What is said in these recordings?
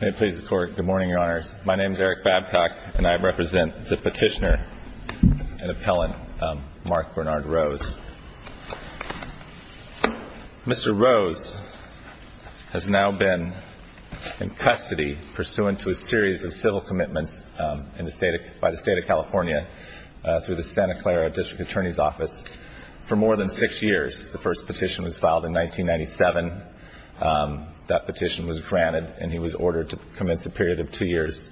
May it please the Court, good morning, Your Honors. My name is Eric Babcock, and I represent the petitioner and appellant, Mark Bernard Rose. Mr. Rose has now been in custody pursuant to a series of civil commitments by the State of California through the Santa Clara District Attorney's Office. For more than six years, the first petition was filed in 1997. That petition was granted, and he was ordered to commence a period of two years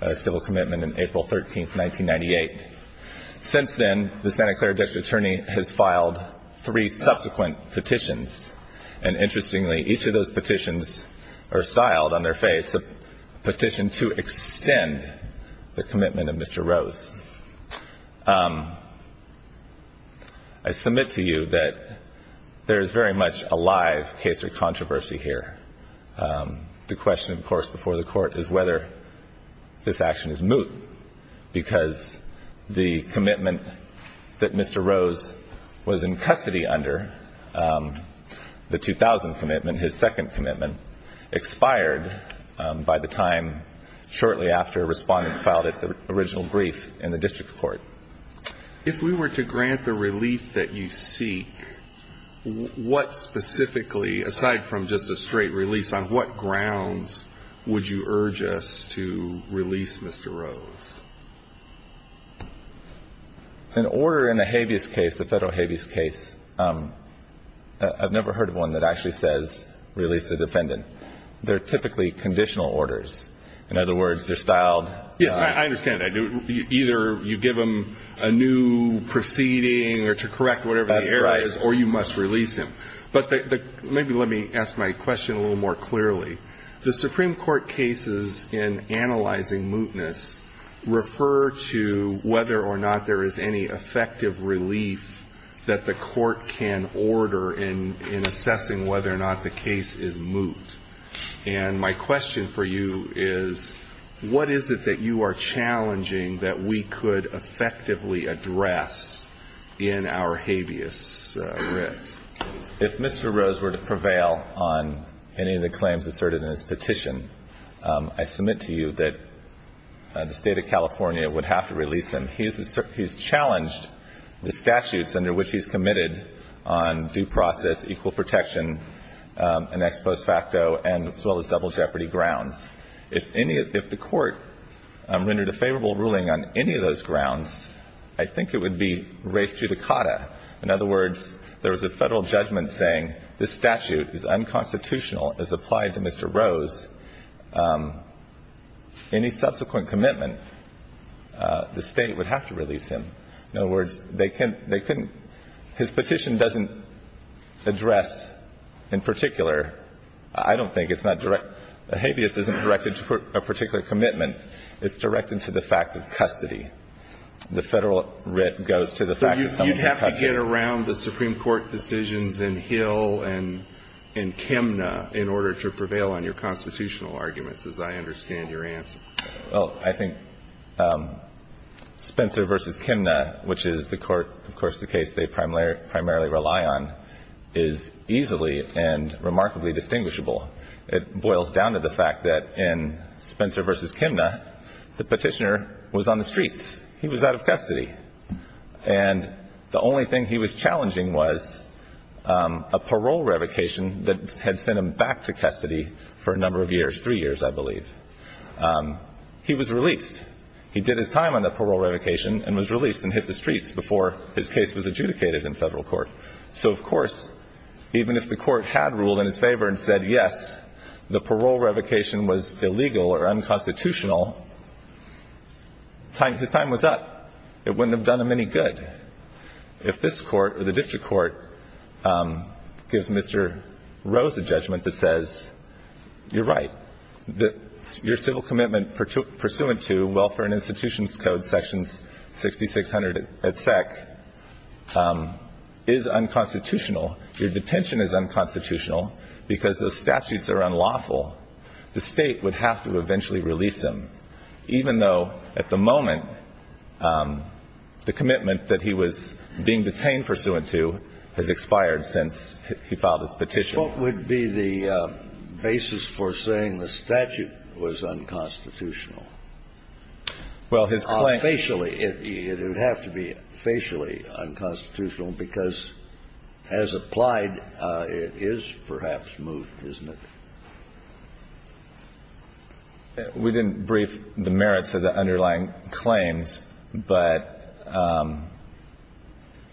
of civil commitment on April 13, 1998. Since then, the Santa Clara District Attorney has filed three subsequent petitions, and interestingly, each of those petitions are styled on their face, a petition to extend the commitment of Mr. Rose. I submit to you that there is very much a live case of controversy here. The question, of course, before the Court is whether this action is moot, because the commitment that Mr. Rose was in custody under, the 2000 commitment, his second commitment, expired by the time shortly after Respondent filed its original brief in the district court. If we were to grant the relief that you seek, what specifically, aside from just a straight release, on what grounds would you urge us to release Mr. Rose? An order in a habeas case, a federal habeas case, I've never heard of one that actually says, release the defendant. They're typically conditional orders. In other words, they're styled on... Yes, I understand that. Either you give him a new proceeding or to correct whatever the error is, or you must release him. But maybe let me ask my question a little more clearly. The Supreme Court cases in analyzing mootness refer to whether or not there is any effective relief that the Court can order in assessing whether or not the case is moot. And my question for you is, what is it that you are challenging that we could effectively address in our habeas writ? If Mr. Rose were to prevail on any of the claims asserted in his petition, I submit to you that the State of California would have to release him. He's challenged the statutes under which he's committed on due process, equal protection, an ex post facto, as well as double jeopardy grounds. If the Court rendered a favorable ruling on any of those grounds, I think it would be res judicata. In other words, there is no question that the State of California would have to release him. Any subsequent commitment, the State would have to release him. In other words, they couldn't, they couldn't, his petition doesn't address in particular, I don't think it's not direct, the habeas isn't directed to a particular commitment. It's directed to the fact of custody. The Federal writ goes to the fact of custody. So you'd have to get around the Supreme Court decisions in Hill and in Chemna in order to prevail on your constitutional arguments, as I understand your answer. Well, I think Spencer v. Chemna, which is the Court, of course, the case they primarily rely on, is easily and remarkably distinguishable. It boils down to the fact that in Spencer v. Chemna, the petitioner was on the streets. He was out of custody. And the only thing he was challenging was a parole revocation that had sent him back to custody. For a number of years, three years, I believe. He was released. He did his time on the parole revocation and was released and hit the streets before his case was adjudicated in Federal Court. So of course, even if the Court had ruled in his favor and said, yes, the parole revocation was illegal or unconstitutional, his time was up. It wouldn't have done him any good. If this Court or the District Court gives Mr. Rose a chance, you're right. Your civil commitment pursuant to Welfare and Institutions Code, sections 6600 at SEC, is unconstitutional. Your detention is unconstitutional because those statutes are unlawful. The State would have to eventually release him, even though, at the moment, the commitment that he was being detained pursuant to has expired since he filed this petition. The basis for saying the statute was unconstitutional? Well, his claim... Facially, it would have to be facially unconstitutional because, as applied, it is perhaps moved, isn't it? We didn't brief the merits of the underlying claims, but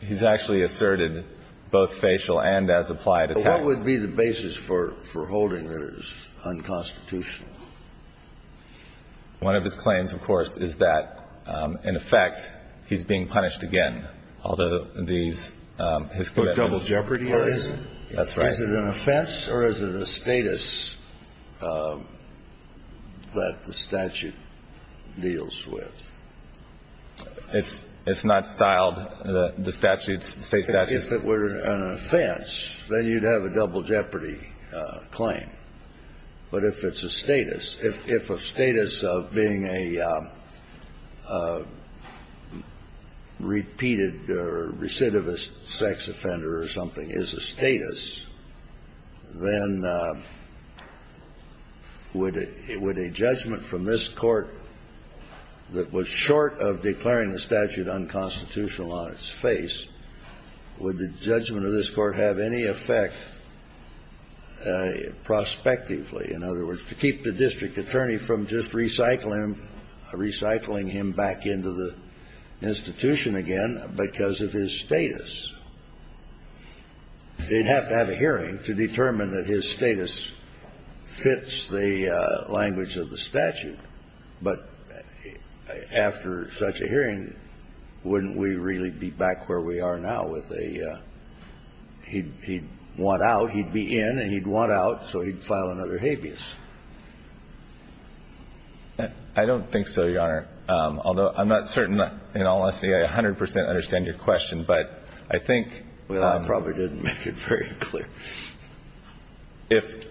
he's actually asserted both facial and as applied attacks. So what would be the basis for holding that it is unconstitutional? One of his claims, of course, is that, in effect, he's being punished again, although these, his commitments... For double jeopardy, or is it? That's right. Is it an offense or is it a status that the statute deals with? It's not styled. The statutes, the State statutes... If it's an offense, then you'd have a double jeopardy claim. But if it's a status, if a status of being a repeated or recidivist sex offender or something is a status, then would a judgment from this Court that was short of judgment of this Court have any effect prospectively? In other words, to keep the district attorney from just recycling him back into the institution again because of his status. They'd have to have a hearing to determine that his status fits the language of the statute. But after such a hearing, wouldn't we really be back where we are now with a statute that says, if he's found unconstitutional, he'd want out, he'd be in, and he'd want out, so he'd file another habeas? I don't think so, Your Honor. Although I'm not certain in all honesty I 100 percent understand your question, but I think... Well, I probably didn't make it very clear. If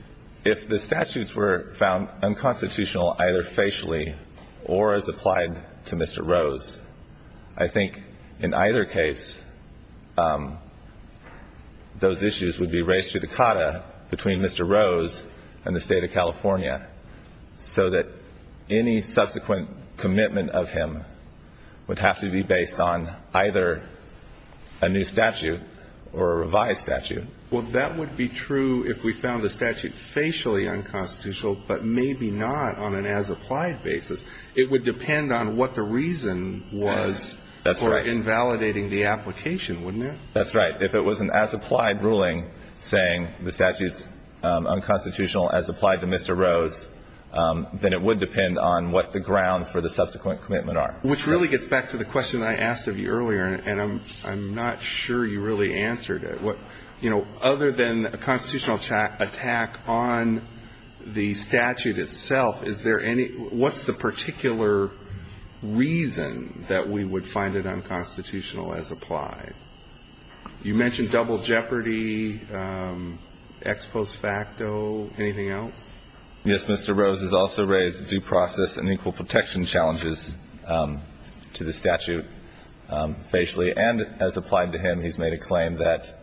the statutes were found unconstitutional either facially or as applied to Mr. Rose, I think in either case those issues would be raised to the cotta between Mr. Rose and the State of California so that any subsequent commitment of him would have to be based on either a new statute or a revised statute. Well, that would be true if we found the statute facially unconstitutional, but maybe not on an as applied basis. It would depend on what the reason was for invalidating the application, wouldn't it? That's right. If it was an as applied ruling saying the statute's unconstitutional as applied to Mr. Rose, then it would depend on what the grounds for the subsequent commitment are. Which really gets back to the question I asked of you earlier, and I'm not sure you really answered it. But other than a constitutional attack on the statute itself, what's the particular reason that we would find it unconstitutional as applied? You mentioned double jeopardy, ex post facto, anything else? Yes, Mr. Rose has also raised due process and equal protection challenges to the statute facially. And as applied to him, he's made a claim that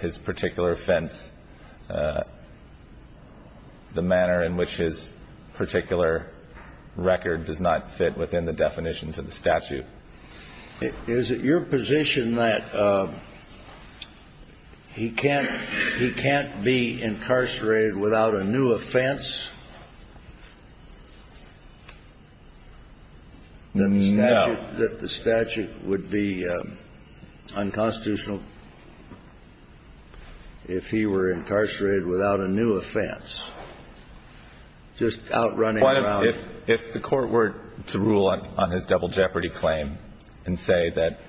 his particular offense, the manner in which his particular record does not fit within the definition to the statute. Is it your position that he can't be incarcerated without a new offense? No. That the statute would be unconstitutional if he were incarcerated without a new offense? Just out running around. If the court were to rule on his double jeopardy claim and say that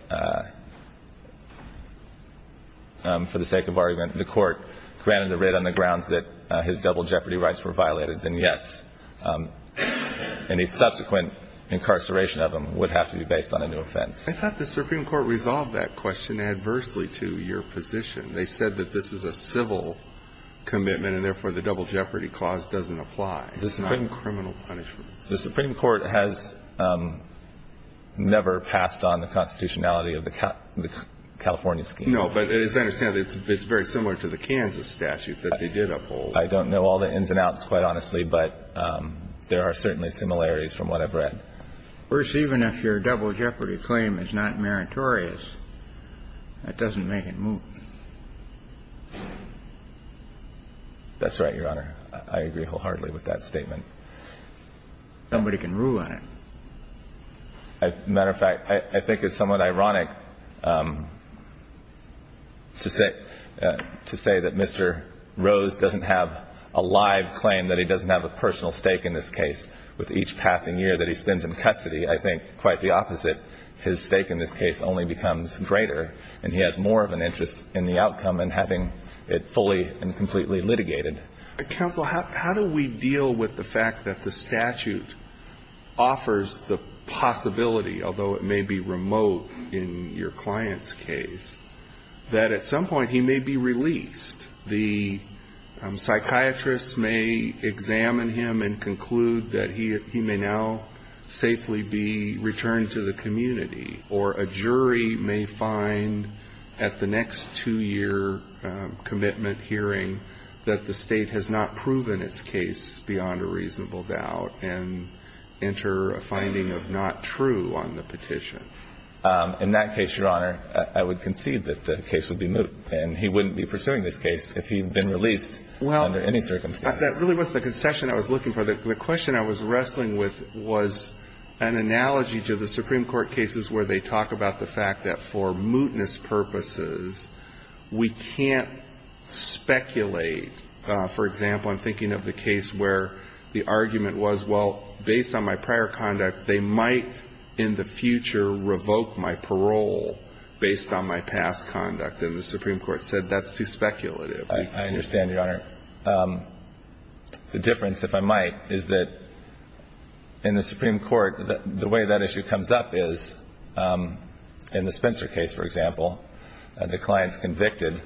for the sake of argument, the court granted the writ on the grounds that his double jeopardy rights were violated, then yes. Any subsequent incarceration of him would have to be based on a new offense. I thought the Supreme Court resolved that question adversely to your position. They said that this is a civil commitment and therefore the double jeopardy clause doesn't apply. This is not a criminal punishment. The Supreme Court has never passed on the constitutionality of the California scheme. No, but as I understand it, it's very similar to the Kansas statute that they did uphold. I don't know all the ins and outs, quite honestly, but there are certainly similarities from what I've read. Of course, even if your double jeopardy claim is not meritorious, that doesn't make it moot. That's right, Your Honor. I agree wholeheartedly with that statement. Somebody can rule on it. As a matter of fact, I think it's somewhat ironic to say that Mr. Rose doesn't have a live claim, that he doesn't have a personal stake in this case. With each passing year that he spends in custody, I think quite the opposite. His stake in this case only becomes greater and he has more of an interest in the outcome and having it fully and completely litigated. Counsel, how do we deal with the fact that the statute offers the possibility, although it may be remote in your client's case, that at some point he may be released and psychiatrists may examine him and conclude that he may now safely be returned to the community or a jury may find at the next two-year commitment hearing that the state has not proven its case beyond a reasonable doubt and enter a finding of not true on the petition? In that case, Your Honor, I would concede that the case would be moot and he would not be released under any circumstances. Well, that really wasn't the concession I was looking for. The question I was wrestling with was an analogy to the Supreme Court cases where they talk about the fact that for mootness purposes, we can't speculate. For example, I'm thinking of the case where the argument was, well, based on my prior conduct, they might in the future revoke my parole based on my past conduct and the Supreme Court said that's too speculative. I understand, Your Honor. The difference, if I might, is that in the Supreme Court, the way that issue comes up is in the Spencer case, for example, the client's convicted.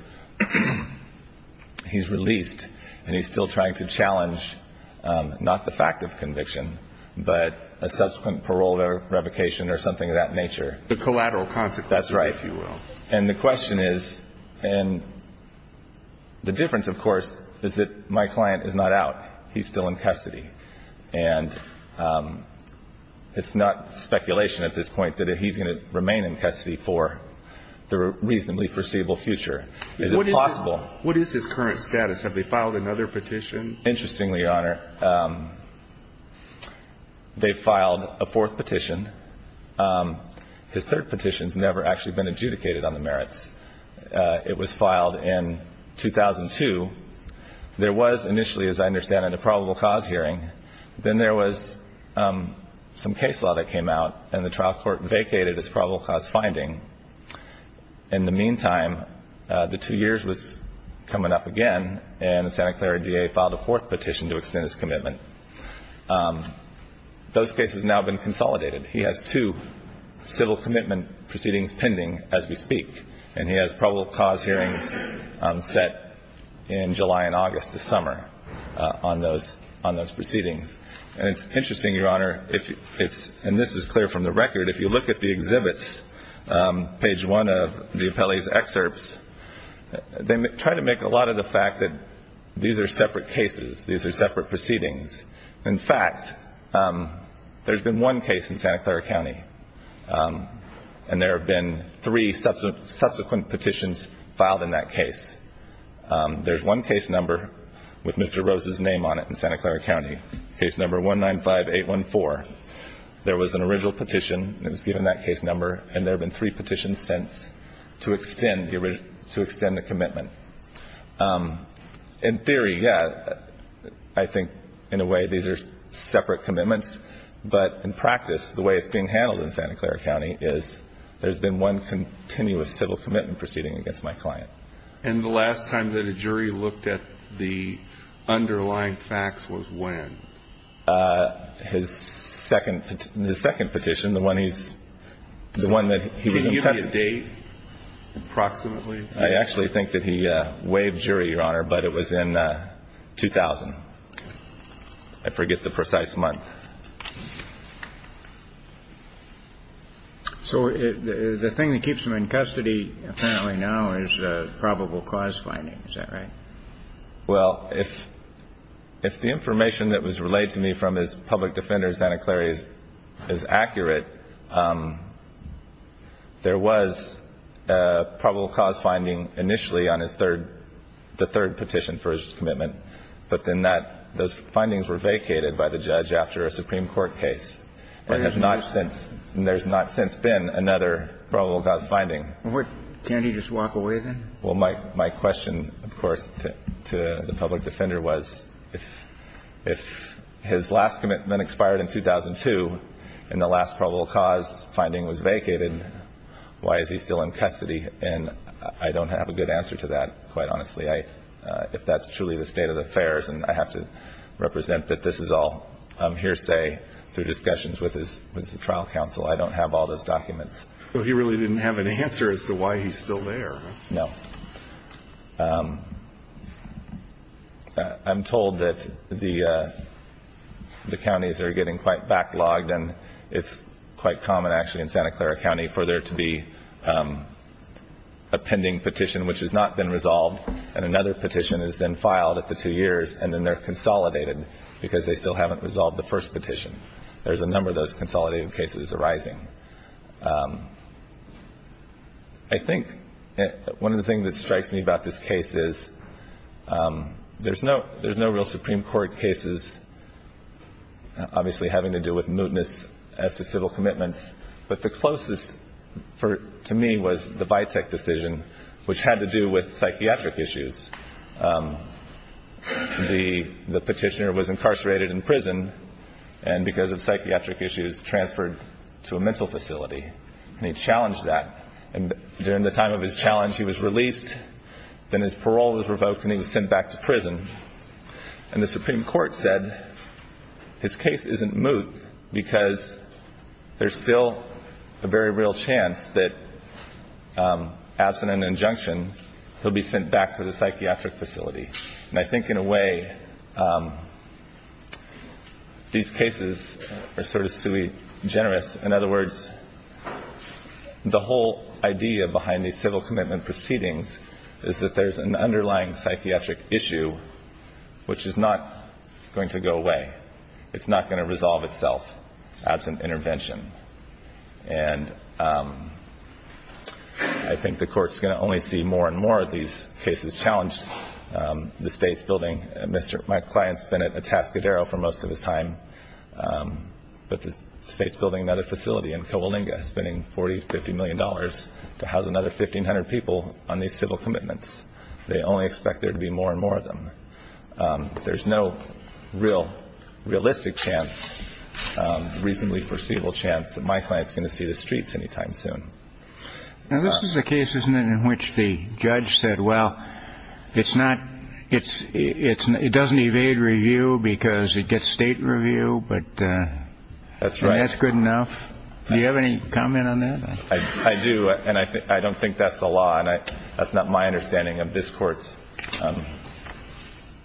He's released and he's still trying to challenge not the fact of conviction but a subsequent parole revocation or something of that nature. The collateral consequences, if you will. And the question is, and the difference, of course, is that my client is not out. He's still in custody. And it's not speculation at this point that he's going to remain in custody for the reasonably foreseeable future. Is it possible? What is his current status? Have they filed another petition? Interestingly, Your Honor, they've filed a fourth petition. His third petition has never actually been adjudicated on the merits. It was filed in 2002. There was initially, as I understand it, a probable cause hearing. Then there was some case law that came out and the trial court vacated its probable cause finding. In the meantime, the two years was coming up again and the Santa Clara D.A. filed a fourth petition to extend his commitment. Those cases have now been consolidated. He has two civil commitment proceedings pending as we speak. And he has probable cause hearings set in July and August this summer on those proceedings. And it's interesting, Your Honor, and this is clear from the record, if you look at the exhibits, page 1 of the appellee's excerpts, they try to make a lot of the fact that these are separate cases. These are separate proceedings. In fact, there's been one case in Santa Clara County, and there have been three subsequent petitions filed in that case. There's one case number with Mr. Rose's name on it in Santa Clara County, case number 195814. There was an original petition that was given that case number, and there have been three petitions since to extend the commitment. In theory, yes, I think in a way these are separate commitments, but in practice, the way it's being handled in Santa Clara County is there's been one continuous civil commitment proceeding against my client. And the last time that a jury looked at the underlying facts was when? His second petition, the one he's, the one that he was in custody. Can you give me a date, approximately? I actually think that he waived jury, Your Honor, but it was in 2000. I forget the precise month. So the thing that keeps him in custody apparently now is probable cause finding. Is that right? Well, if the information that was relayed to me from his public defender in Santa Clara is accurate, there was probable cause finding initially on his third, the third petition for his commitment, but then that, those findings were vacated by the judge after a Supreme Court case. There has not since, there's not since been another probable cause finding. Can't he just walk away then? Well, my question, of course, to the public defender was if his last commitment expired in 2002 and the last probable cause finding was vacated, why is he still in custody? And I don't have a good answer to that, quite honestly. I, if that's truly the state of affairs and I have to represent that this is all hearsay through discussions with his, with the trial counsel, I don't have all those documents. Well, he really didn't have an answer as to why he's still there. No. I'm told that the counties are getting quite backlogged and it's quite common actually in Santa Clara County for there to be a pending petition which has not been resolved and another petition is then filed after two years and then they're consolidated because they still haven't resolved the first petition. There's a number of those consolidated cases arising. I think one of the things that strikes me about this case is there's no real Supreme Court cases obviously having to do with mootness as to civil commitments, but the closest to me was the Vitek decision which had to do with psychiatric issues. The petitioner was incarcerated in prison and because of psychiatric issues, he was transferred to a mental facility and he challenged that. And during the time of his challenge, he was released, then his parole was revoked and he was sent back to prison. And the Supreme Court said his case isn't moot because there's still a very real chance that absent an injunction, he'll be sent back to the psychiatric facility. And I think in a way, these cases are sort of sui generis. In other words, the whole idea behind these civil commitment proceedings is that there's an underlying psychiatric issue which is not going to go away. It's not going to resolve itself absent intervention. And I think the Court's going to only see more and more of these cases challenged. The State's building, my client's been at Atascadero for most of his time, but the State's building another facility in Cobalinga, spending $40, $50 million to house another 1,500 people on these civil commitments. They only expect there to be more and more of them. There's no real realistic chance, reasonably foreseeable chance that my client's going to see the streets any time soon. Now, this is a case, isn't it, in which the judge said, well, it doesn't evade review because it gets State review, but that's good enough? That's right. Do you have any comment on that? I do, and I don't think that's the law. That's not my understanding of this Court's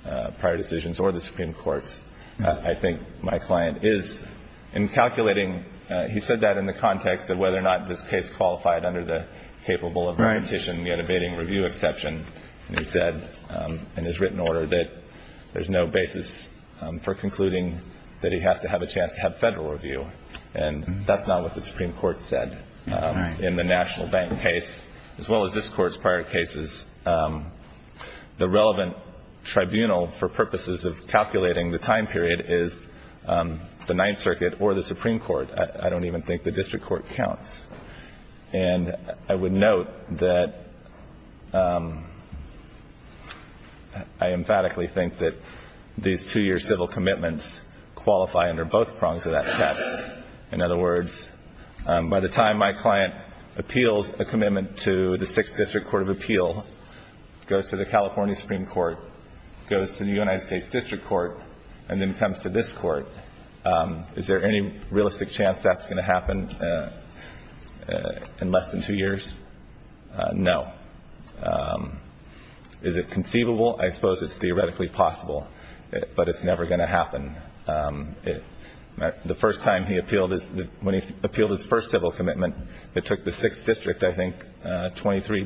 prior decisions or the Supreme Court's. I think my client is in calculating. He said that in the context of whether or not this case qualified under the capable of repetition yet evading review exception. He said in his written order that there's no basis for concluding that he has to have a chance to have Federal review. And that's not what the Supreme Court said in the National Bank case, as well as this Court's prior cases. The relevant tribunal for purposes of calculating the time period is the Ninth Circuit or the Supreme Court. I don't even think the District Court counts. And I would note that I emphatically think that these two-year civil commitments qualify under both prongs of that test. In other words, by the time my client appeals a commitment to the Sixth District Court of Appeal, goes to the California Supreme Court, goes to the United States District Court, and then comes to this Court, is there any realistic chance that's going to happen in less than two years? No. Is it conceivable? I suppose it's theoretically possible, but it's never going to happen. The first time he appealed, when he appealed his first civil commitment, it took the Sixth District, I think, 23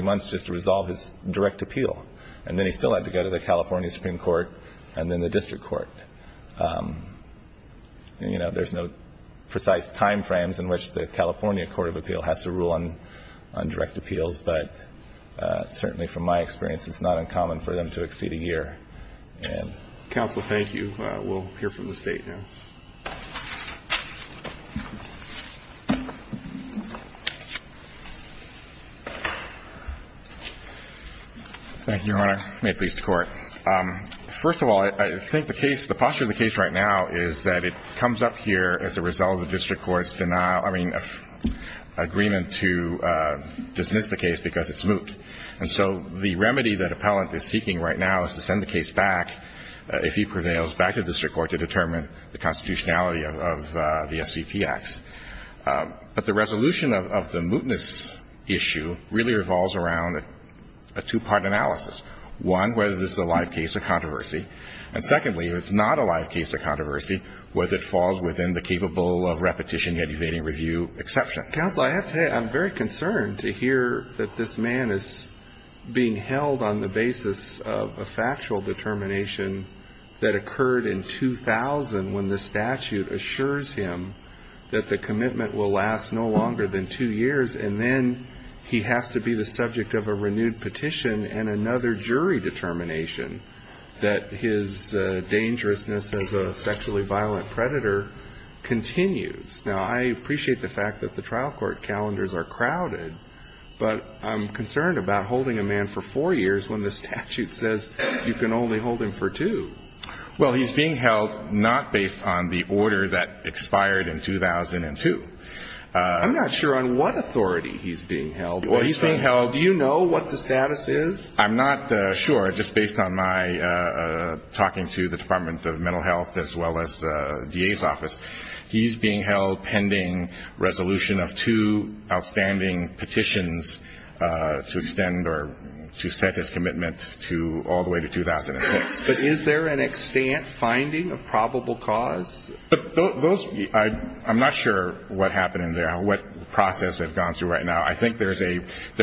months just to resolve his direct appeal. And then he still had to go to the California Supreme Court and then the District Court. You know, there's no precise time frames in which the California Court of Appeal has to rule on direct appeals, but certainly from my experience, it's not uncommon for them to exceed a year. Counsel, thank you. We'll hear from the State now. Thank you, Your Honor. May it please the Court. First of all, I think the case, the posture of the case right now is that it comes up here as a result of the District Court's denial, I mean, agreement to dismiss the case because it's moot. And so the remedy that appellant is seeking right now is to send the case back, if he prevails, back to the District Court to determine the constitutionality of the SCP acts. But the resolution of the mootness issue really revolves around a two-part analysis. One, whether this is a live case or controversy. And secondly, if it's not a live case or controversy, whether it falls within the capable of repetition yet evading review exception. Counsel, I have to say I'm very concerned to hear that this man is being held on the basis of a factual determination that occurred in 2000 when the statute assures him that the commitment will last no longer than two years, and then he has to be the subject of a renewed petition and another jury determination that his dangerousness as a sexually violent predator continues. Now, I appreciate the fact that the trial court calendars are crowded, but I'm concerned about holding a man for four years when the statute says you can only hold him for two. Well, he's being held not based on the order that expired in 2002. I'm not sure on what authority he's being held. Well, he's being held. Do you know what the status is? I'm not sure, just based on my talking to the Department of Mental Health as well as the DA's office. He's being held pending resolution of two outstanding petitions to extend or to set his commitment to all the way to 2006. But is there an extant finding of probable cause? I'm not sure what happened in there, what process they've gone through right now. I think there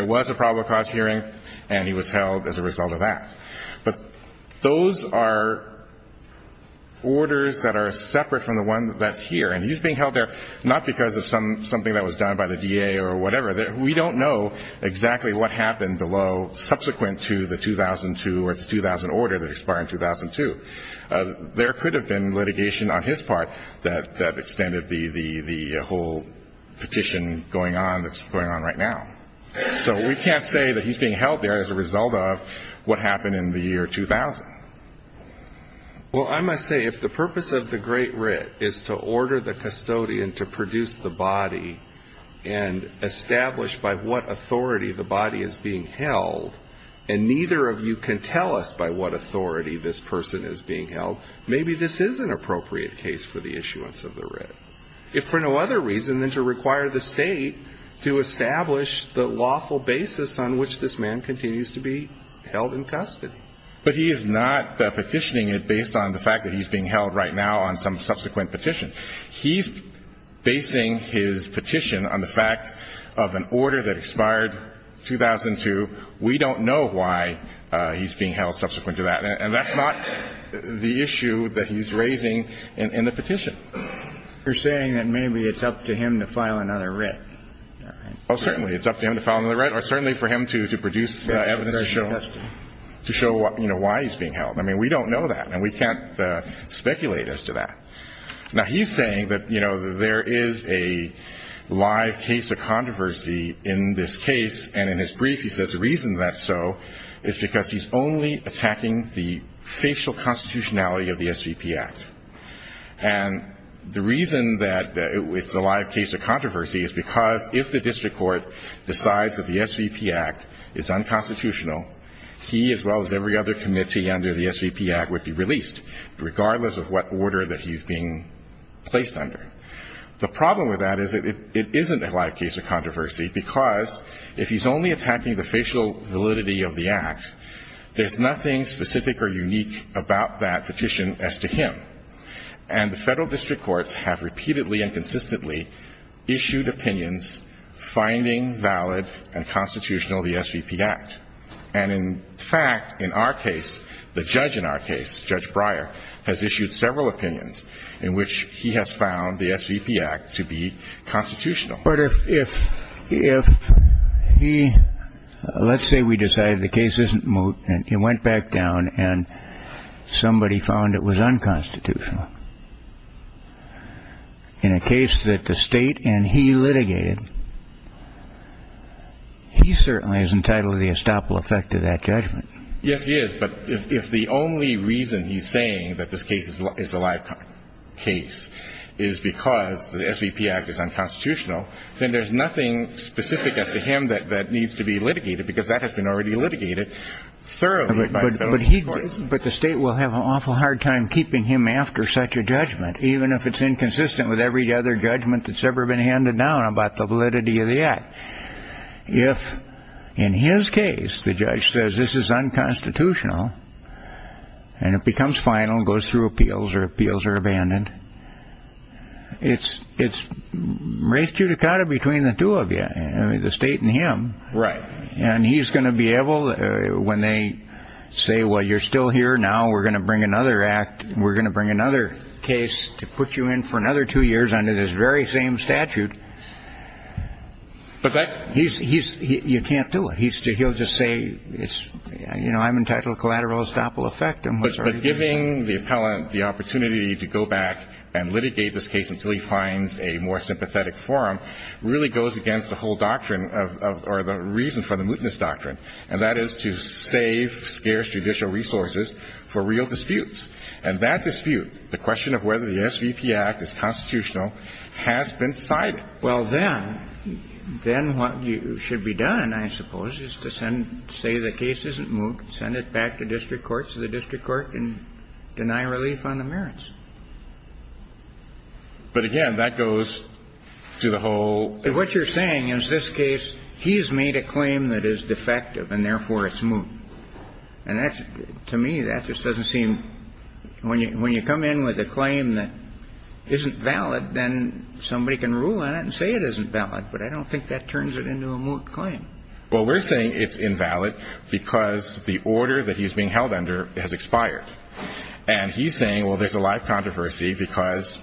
was a probable cause hearing, and he was held as a result of that. But those are orders that are separate from the one that's here, and he's being held there not because of something that was done by the DA or whatever. We don't know exactly what happened below subsequent to the 2002 or the 2000 order that expired in 2002. There could have been litigation on his part that extended the whole petition going on that's going on right now. So we can't say that he's being held there as a result of what happened in the year 2000. Well, I must say, if the purpose of the Great Writ is to order the custodian to produce the body and establish by what authority the body is being held, and neither of you can tell us by what authority this person is being held, maybe this is an appropriate case for the issuance of the writ. If for no other reason than to require the State to establish the lawful basis on which this man continues to be held in custody. But he is not petitioning it based on the fact that he's being held right now on some subsequent petition. He's basing his petition on the fact of an order that expired in 2002. We don't know why he's being held subsequent to that, and that's not the issue that he's raising in the petition. You're saying that maybe it's up to him to file another writ. Oh, certainly. It's up to him to file another writ or certainly for him to produce evidence to show why he's being held. I mean, we don't know that, and we can't speculate as to that. Now, he's saying that there is a live case of controversy in this case, and in his brief he says the reason that's so is because he's only attacking the facial constitutionality of the SVP Act. And the reason that it's a live case of controversy is because if the district court decides that the SVP Act is unconstitutional, he as well as every other committee under the SVP Act would be released, regardless of what order that he's being placed under. The problem with that is that it isn't a live case of controversy because if he's only attacking the facial validity of the Act, there's nothing specific or unique about that petition as to him. And the federal district courts have repeatedly and consistently issued opinions finding valid and constitutional the SVP Act. And in fact, in our case, the judge in our case, Judge Breyer, has issued several opinions in which he has found the SVP Act to be constitutional. But if he, let's say we decide the case isn't moot and it went back down and somebody found it was unconstitutional, in a case that the State and he litigated, he certainly is entitled to the estoppel effect of that judgment. Yes, he is, but if the only reason he's saying that this case is a live case is because the SVP Act is unconstitutional, then there's nothing specific as to him that needs to be litigated because that has been already litigated thoroughly by federal courts. But the State will have an awful hard time keeping him after such a judgment, even if it's inconsistent with every other judgment that's ever been handed down about the validity of the Act. If in his case the judge says this is unconstitutional and it becomes final and goes through appeals or appeals are abandoned, it's res judicata between the two of you, the State and him. And he's going to be able, when they say, well, you're still here now, we're going to bring another act, we're going to bring another case to put you in for another two years under this very same statute, you can't do it. He'll just say, you know, I'm entitled to collateral estoppel effect. But giving the appellant the opportunity to go back and litigate this case until he finds a more sympathetic forum really goes against the whole doctrine or the reason for the mootness doctrine, and that is to save scarce judicial resources for real disputes. And that dispute, the question of whether the SVP Act is constitutional, has been cited. Well, then, then what should be done, I suppose, is to send, say the case isn't moot, send it back to district court so the district court can deny relief on the merits. But again, that goes to the whole... What you're saying is this case, he's made a claim that is defective and therefore it's moot. And that's, to me, that just doesn't seem, when you come in with a claim that isn't valid, then somebody can rule on it and say it isn't valid. But I don't think that turns it into a moot claim. Well, we're saying it's invalid because the order that he's being held under has expired. And he's saying, well, there's a live controversy because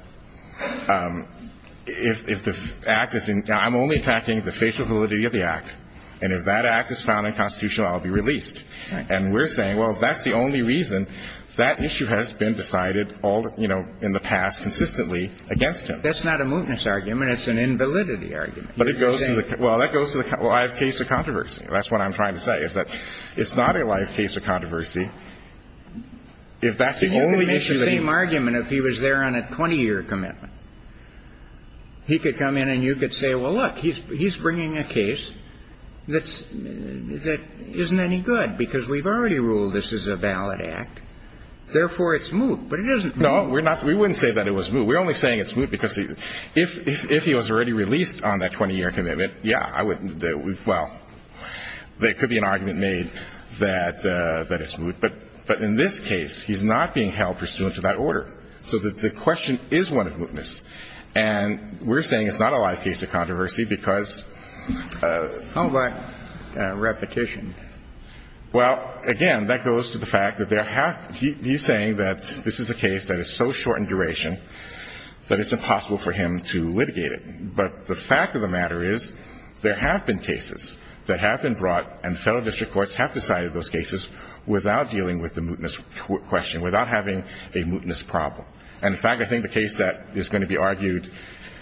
if the Act is in... I'm only attacking the facial validity of the Act. And if that Act is found unconstitutional, I'll be released. And we're saying, well, that's the only reason That issue has been decided all, you know, in the past consistently against him. That's not a mootness argument. It's an invalidity argument. But it goes to the... Well, that goes to the live case of controversy. That's what I'm trying to say, is that it's not a live case of controversy if that's the only issue that he... See, you could make the same argument if he was there on a 20-year commitment. He could come in and you could say, well, look, he's bringing a case that's, that isn't any good because we've already ruled this is a valid Act. Therefore, it's moot. But it isn't moot. No, we're not. We wouldn't say that it was moot. We're only saying it's moot because if he was already released on that 20-year commitment, yeah, I wouldn't... Well, there could be an argument made that it's moot. But in this case, he's not being held pursuant to that order. So the question is one of mootness. And we're saying it's not a live case of controversy because... How about repetition? Well, again, that goes to the fact that there have... He's saying that this is a case that is so short in duration that it's impossible for him to litigate it. But the fact of the matter is there have been cases that have been brought and federal district courts have decided those cases without dealing with the mootness question, without having a mootness problem. And in fact, I think the case that is going to be argued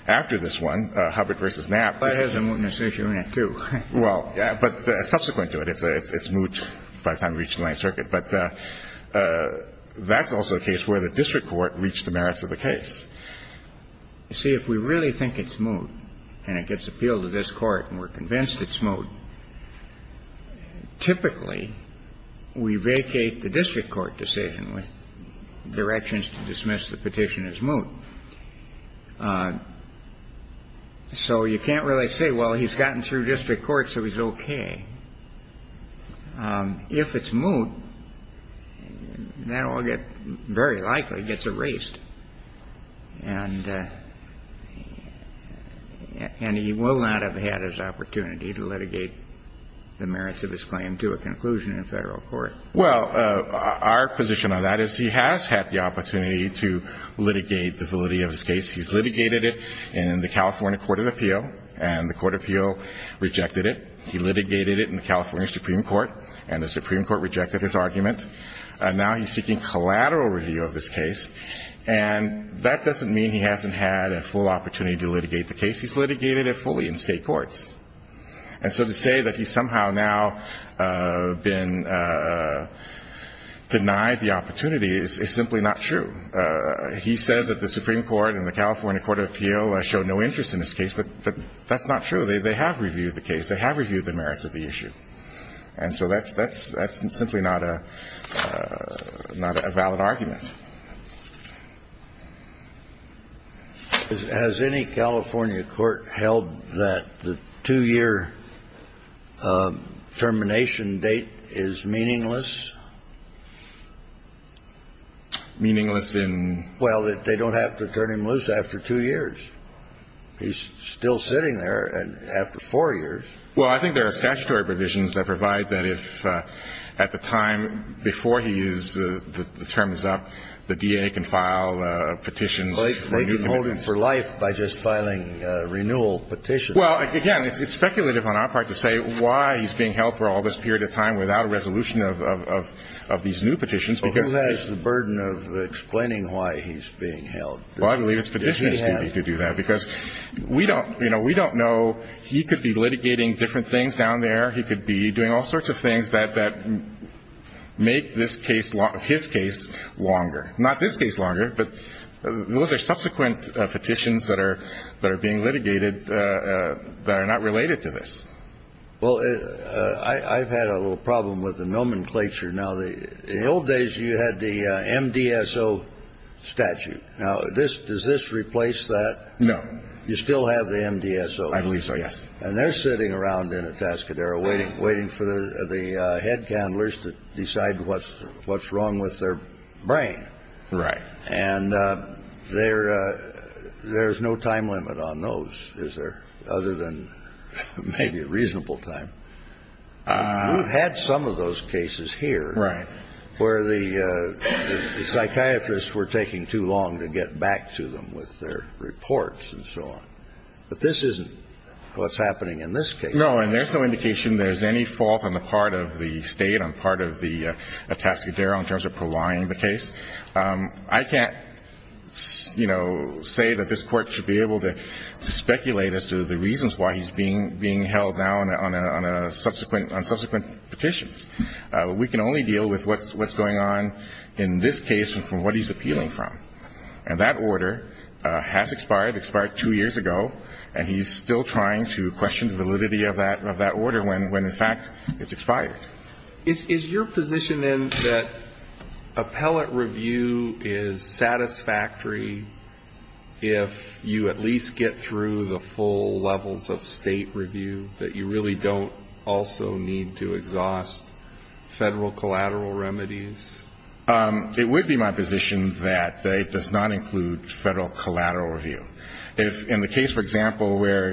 after this one, Hubbard v. Knapp... Well, there is a mootness issue in it, too. Well, yeah, but subsequent to it. It's moot by the time it reaches the Ninth Circuit. But that's also a case where the district court reached the merits of the case. See, if we really think it's moot and it gets appealed to this Court and we're convinced it's moot, typically we vacate the district court decision with directions to dismiss the petition as moot. So you can't really say, well, he's gotten through district court, so he's okay. If it's moot, that will get very likely gets erased. And he will not have had his opportunity to litigate the merits of his claim to a conclusion in a federal court. Well, our position on that is he has had the opportunity to litigate the validity of his case. He's litigated it in the California Court of Appeal, and the Court of Appeal rejected it. He litigated it in the California Supreme Court, and the Supreme Court rejected his argument. Now he's seeking collateral review of this case. And that doesn't mean he hasn't had a full opportunity to litigate the case. He's litigated it fully in state courts. And so to say that he's somehow now been denied the opportunity is simply not true. He says that the Supreme Court and the California Court of Appeal showed no interest in his case, but that's not true. They have reviewed the case. They have reviewed the merits of the issue. And so that's simply not a valid argument. Has any California court held that the two-year termination date is meaningless? Meaningless in? Well, that they don't have to turn him loose after two years. He's still sitting there after four years. Well, I think there are statutory provisions that provide that if at the time before he is, the term is up, the DA can file petitions. They can hold him for life by just filing a renewal petition. Well, again, it's speculative on our part to say why he's being held for all this period of time without a resolution of these new petitions. Who has the burden of explaining why he's being held? Well, I believe it's petitioners who need to do that. Because we don't know. He could be litigating different things down there. He could be doing all sorts of things that make this case, his case, longer. Not this case longer, but those are subsequent petitions that are being litigated that are not related to this. Well, I've had a little problem with the nomenclature. Now, in the old days, you had the MDSO statute. Now, does this replace that? No. You still have the MDSO. I believe so, yes. And they're sitting around in a Tascadero waiting for the head candlers to decide what's wrong with their brain. Right. And there's no time limit on those, is there, other than maybe a reasonable time. We've had some of those cases here where the psychiatrists were taking too long to get back to them with their reports and so on. But this isn't what's happening in this case. No, and there's no indication there's any fault on the part of the State, on part of the Tascadero, in terms of providing the case. I can't, you know, say that this Court should be able to speculate as to the reasons why he's being held now on subsequent petitions. We can only deal with what's going on in this case and from what he's appealing from. And that order has expired. It expired two years ago. And he's still trying to question the validity of that order when, in fact, it's expired. Is your position, then, that appellate review is satisfactory if you at least get through the full levels of State review, that you really don't also need to exhaust Federal collateral remedies? It would be my position that it does not include Federal collateral review. If, in the case, for example, where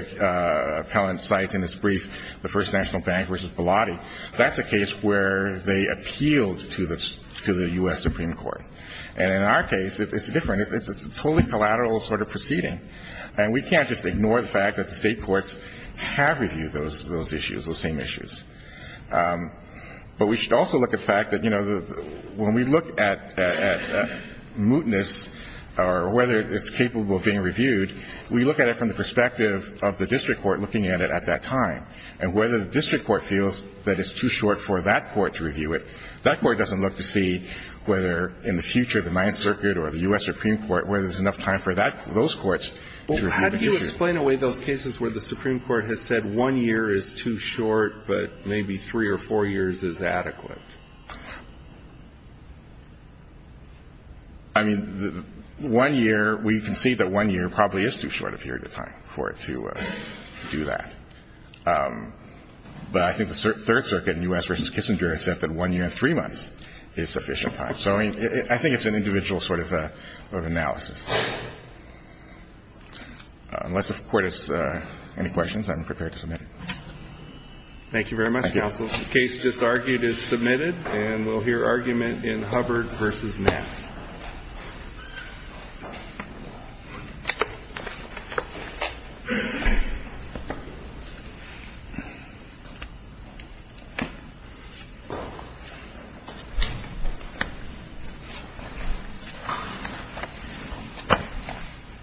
appellant cites in his brief the First National Bank versus Bilotti, that's a case where they appealed to the U.S. Supreme Court. And in our case, it's different. It's a totally collateral sort of proceeding. And we can't just ignore the fact that the State courts have reviewed those issues, those same issues. But we should also look at the fact that, you know, when we look at mootness or whether it's capable of being reviewed, we look at it from the perspective of the district court looking at it at that time and whether the district court feels that it's too short for that court to review it. That court doesn't look to see whether in the future the Ninth Circuit or the U.S. Supreme Court, whether there's enough time for those courts to review the issue. Can you explain a way those cases where the Supreme Court has said one year is too short, but maybe three or four years is adequate? I mean, one year, we can see that one year probably is too short a period of time for it to do that. But I think the Third Circuit in U.S. v. Kissinger has said that one year and three months is sufficient time. So, I mean, I think it's an individual sort of analysis. Unless the Court has any questions, I'm prepared to submit it. Thank you very much. Thank you. The case just argued is submitted, and we'll hear argument in Hubbard v. Knapp. Thank you.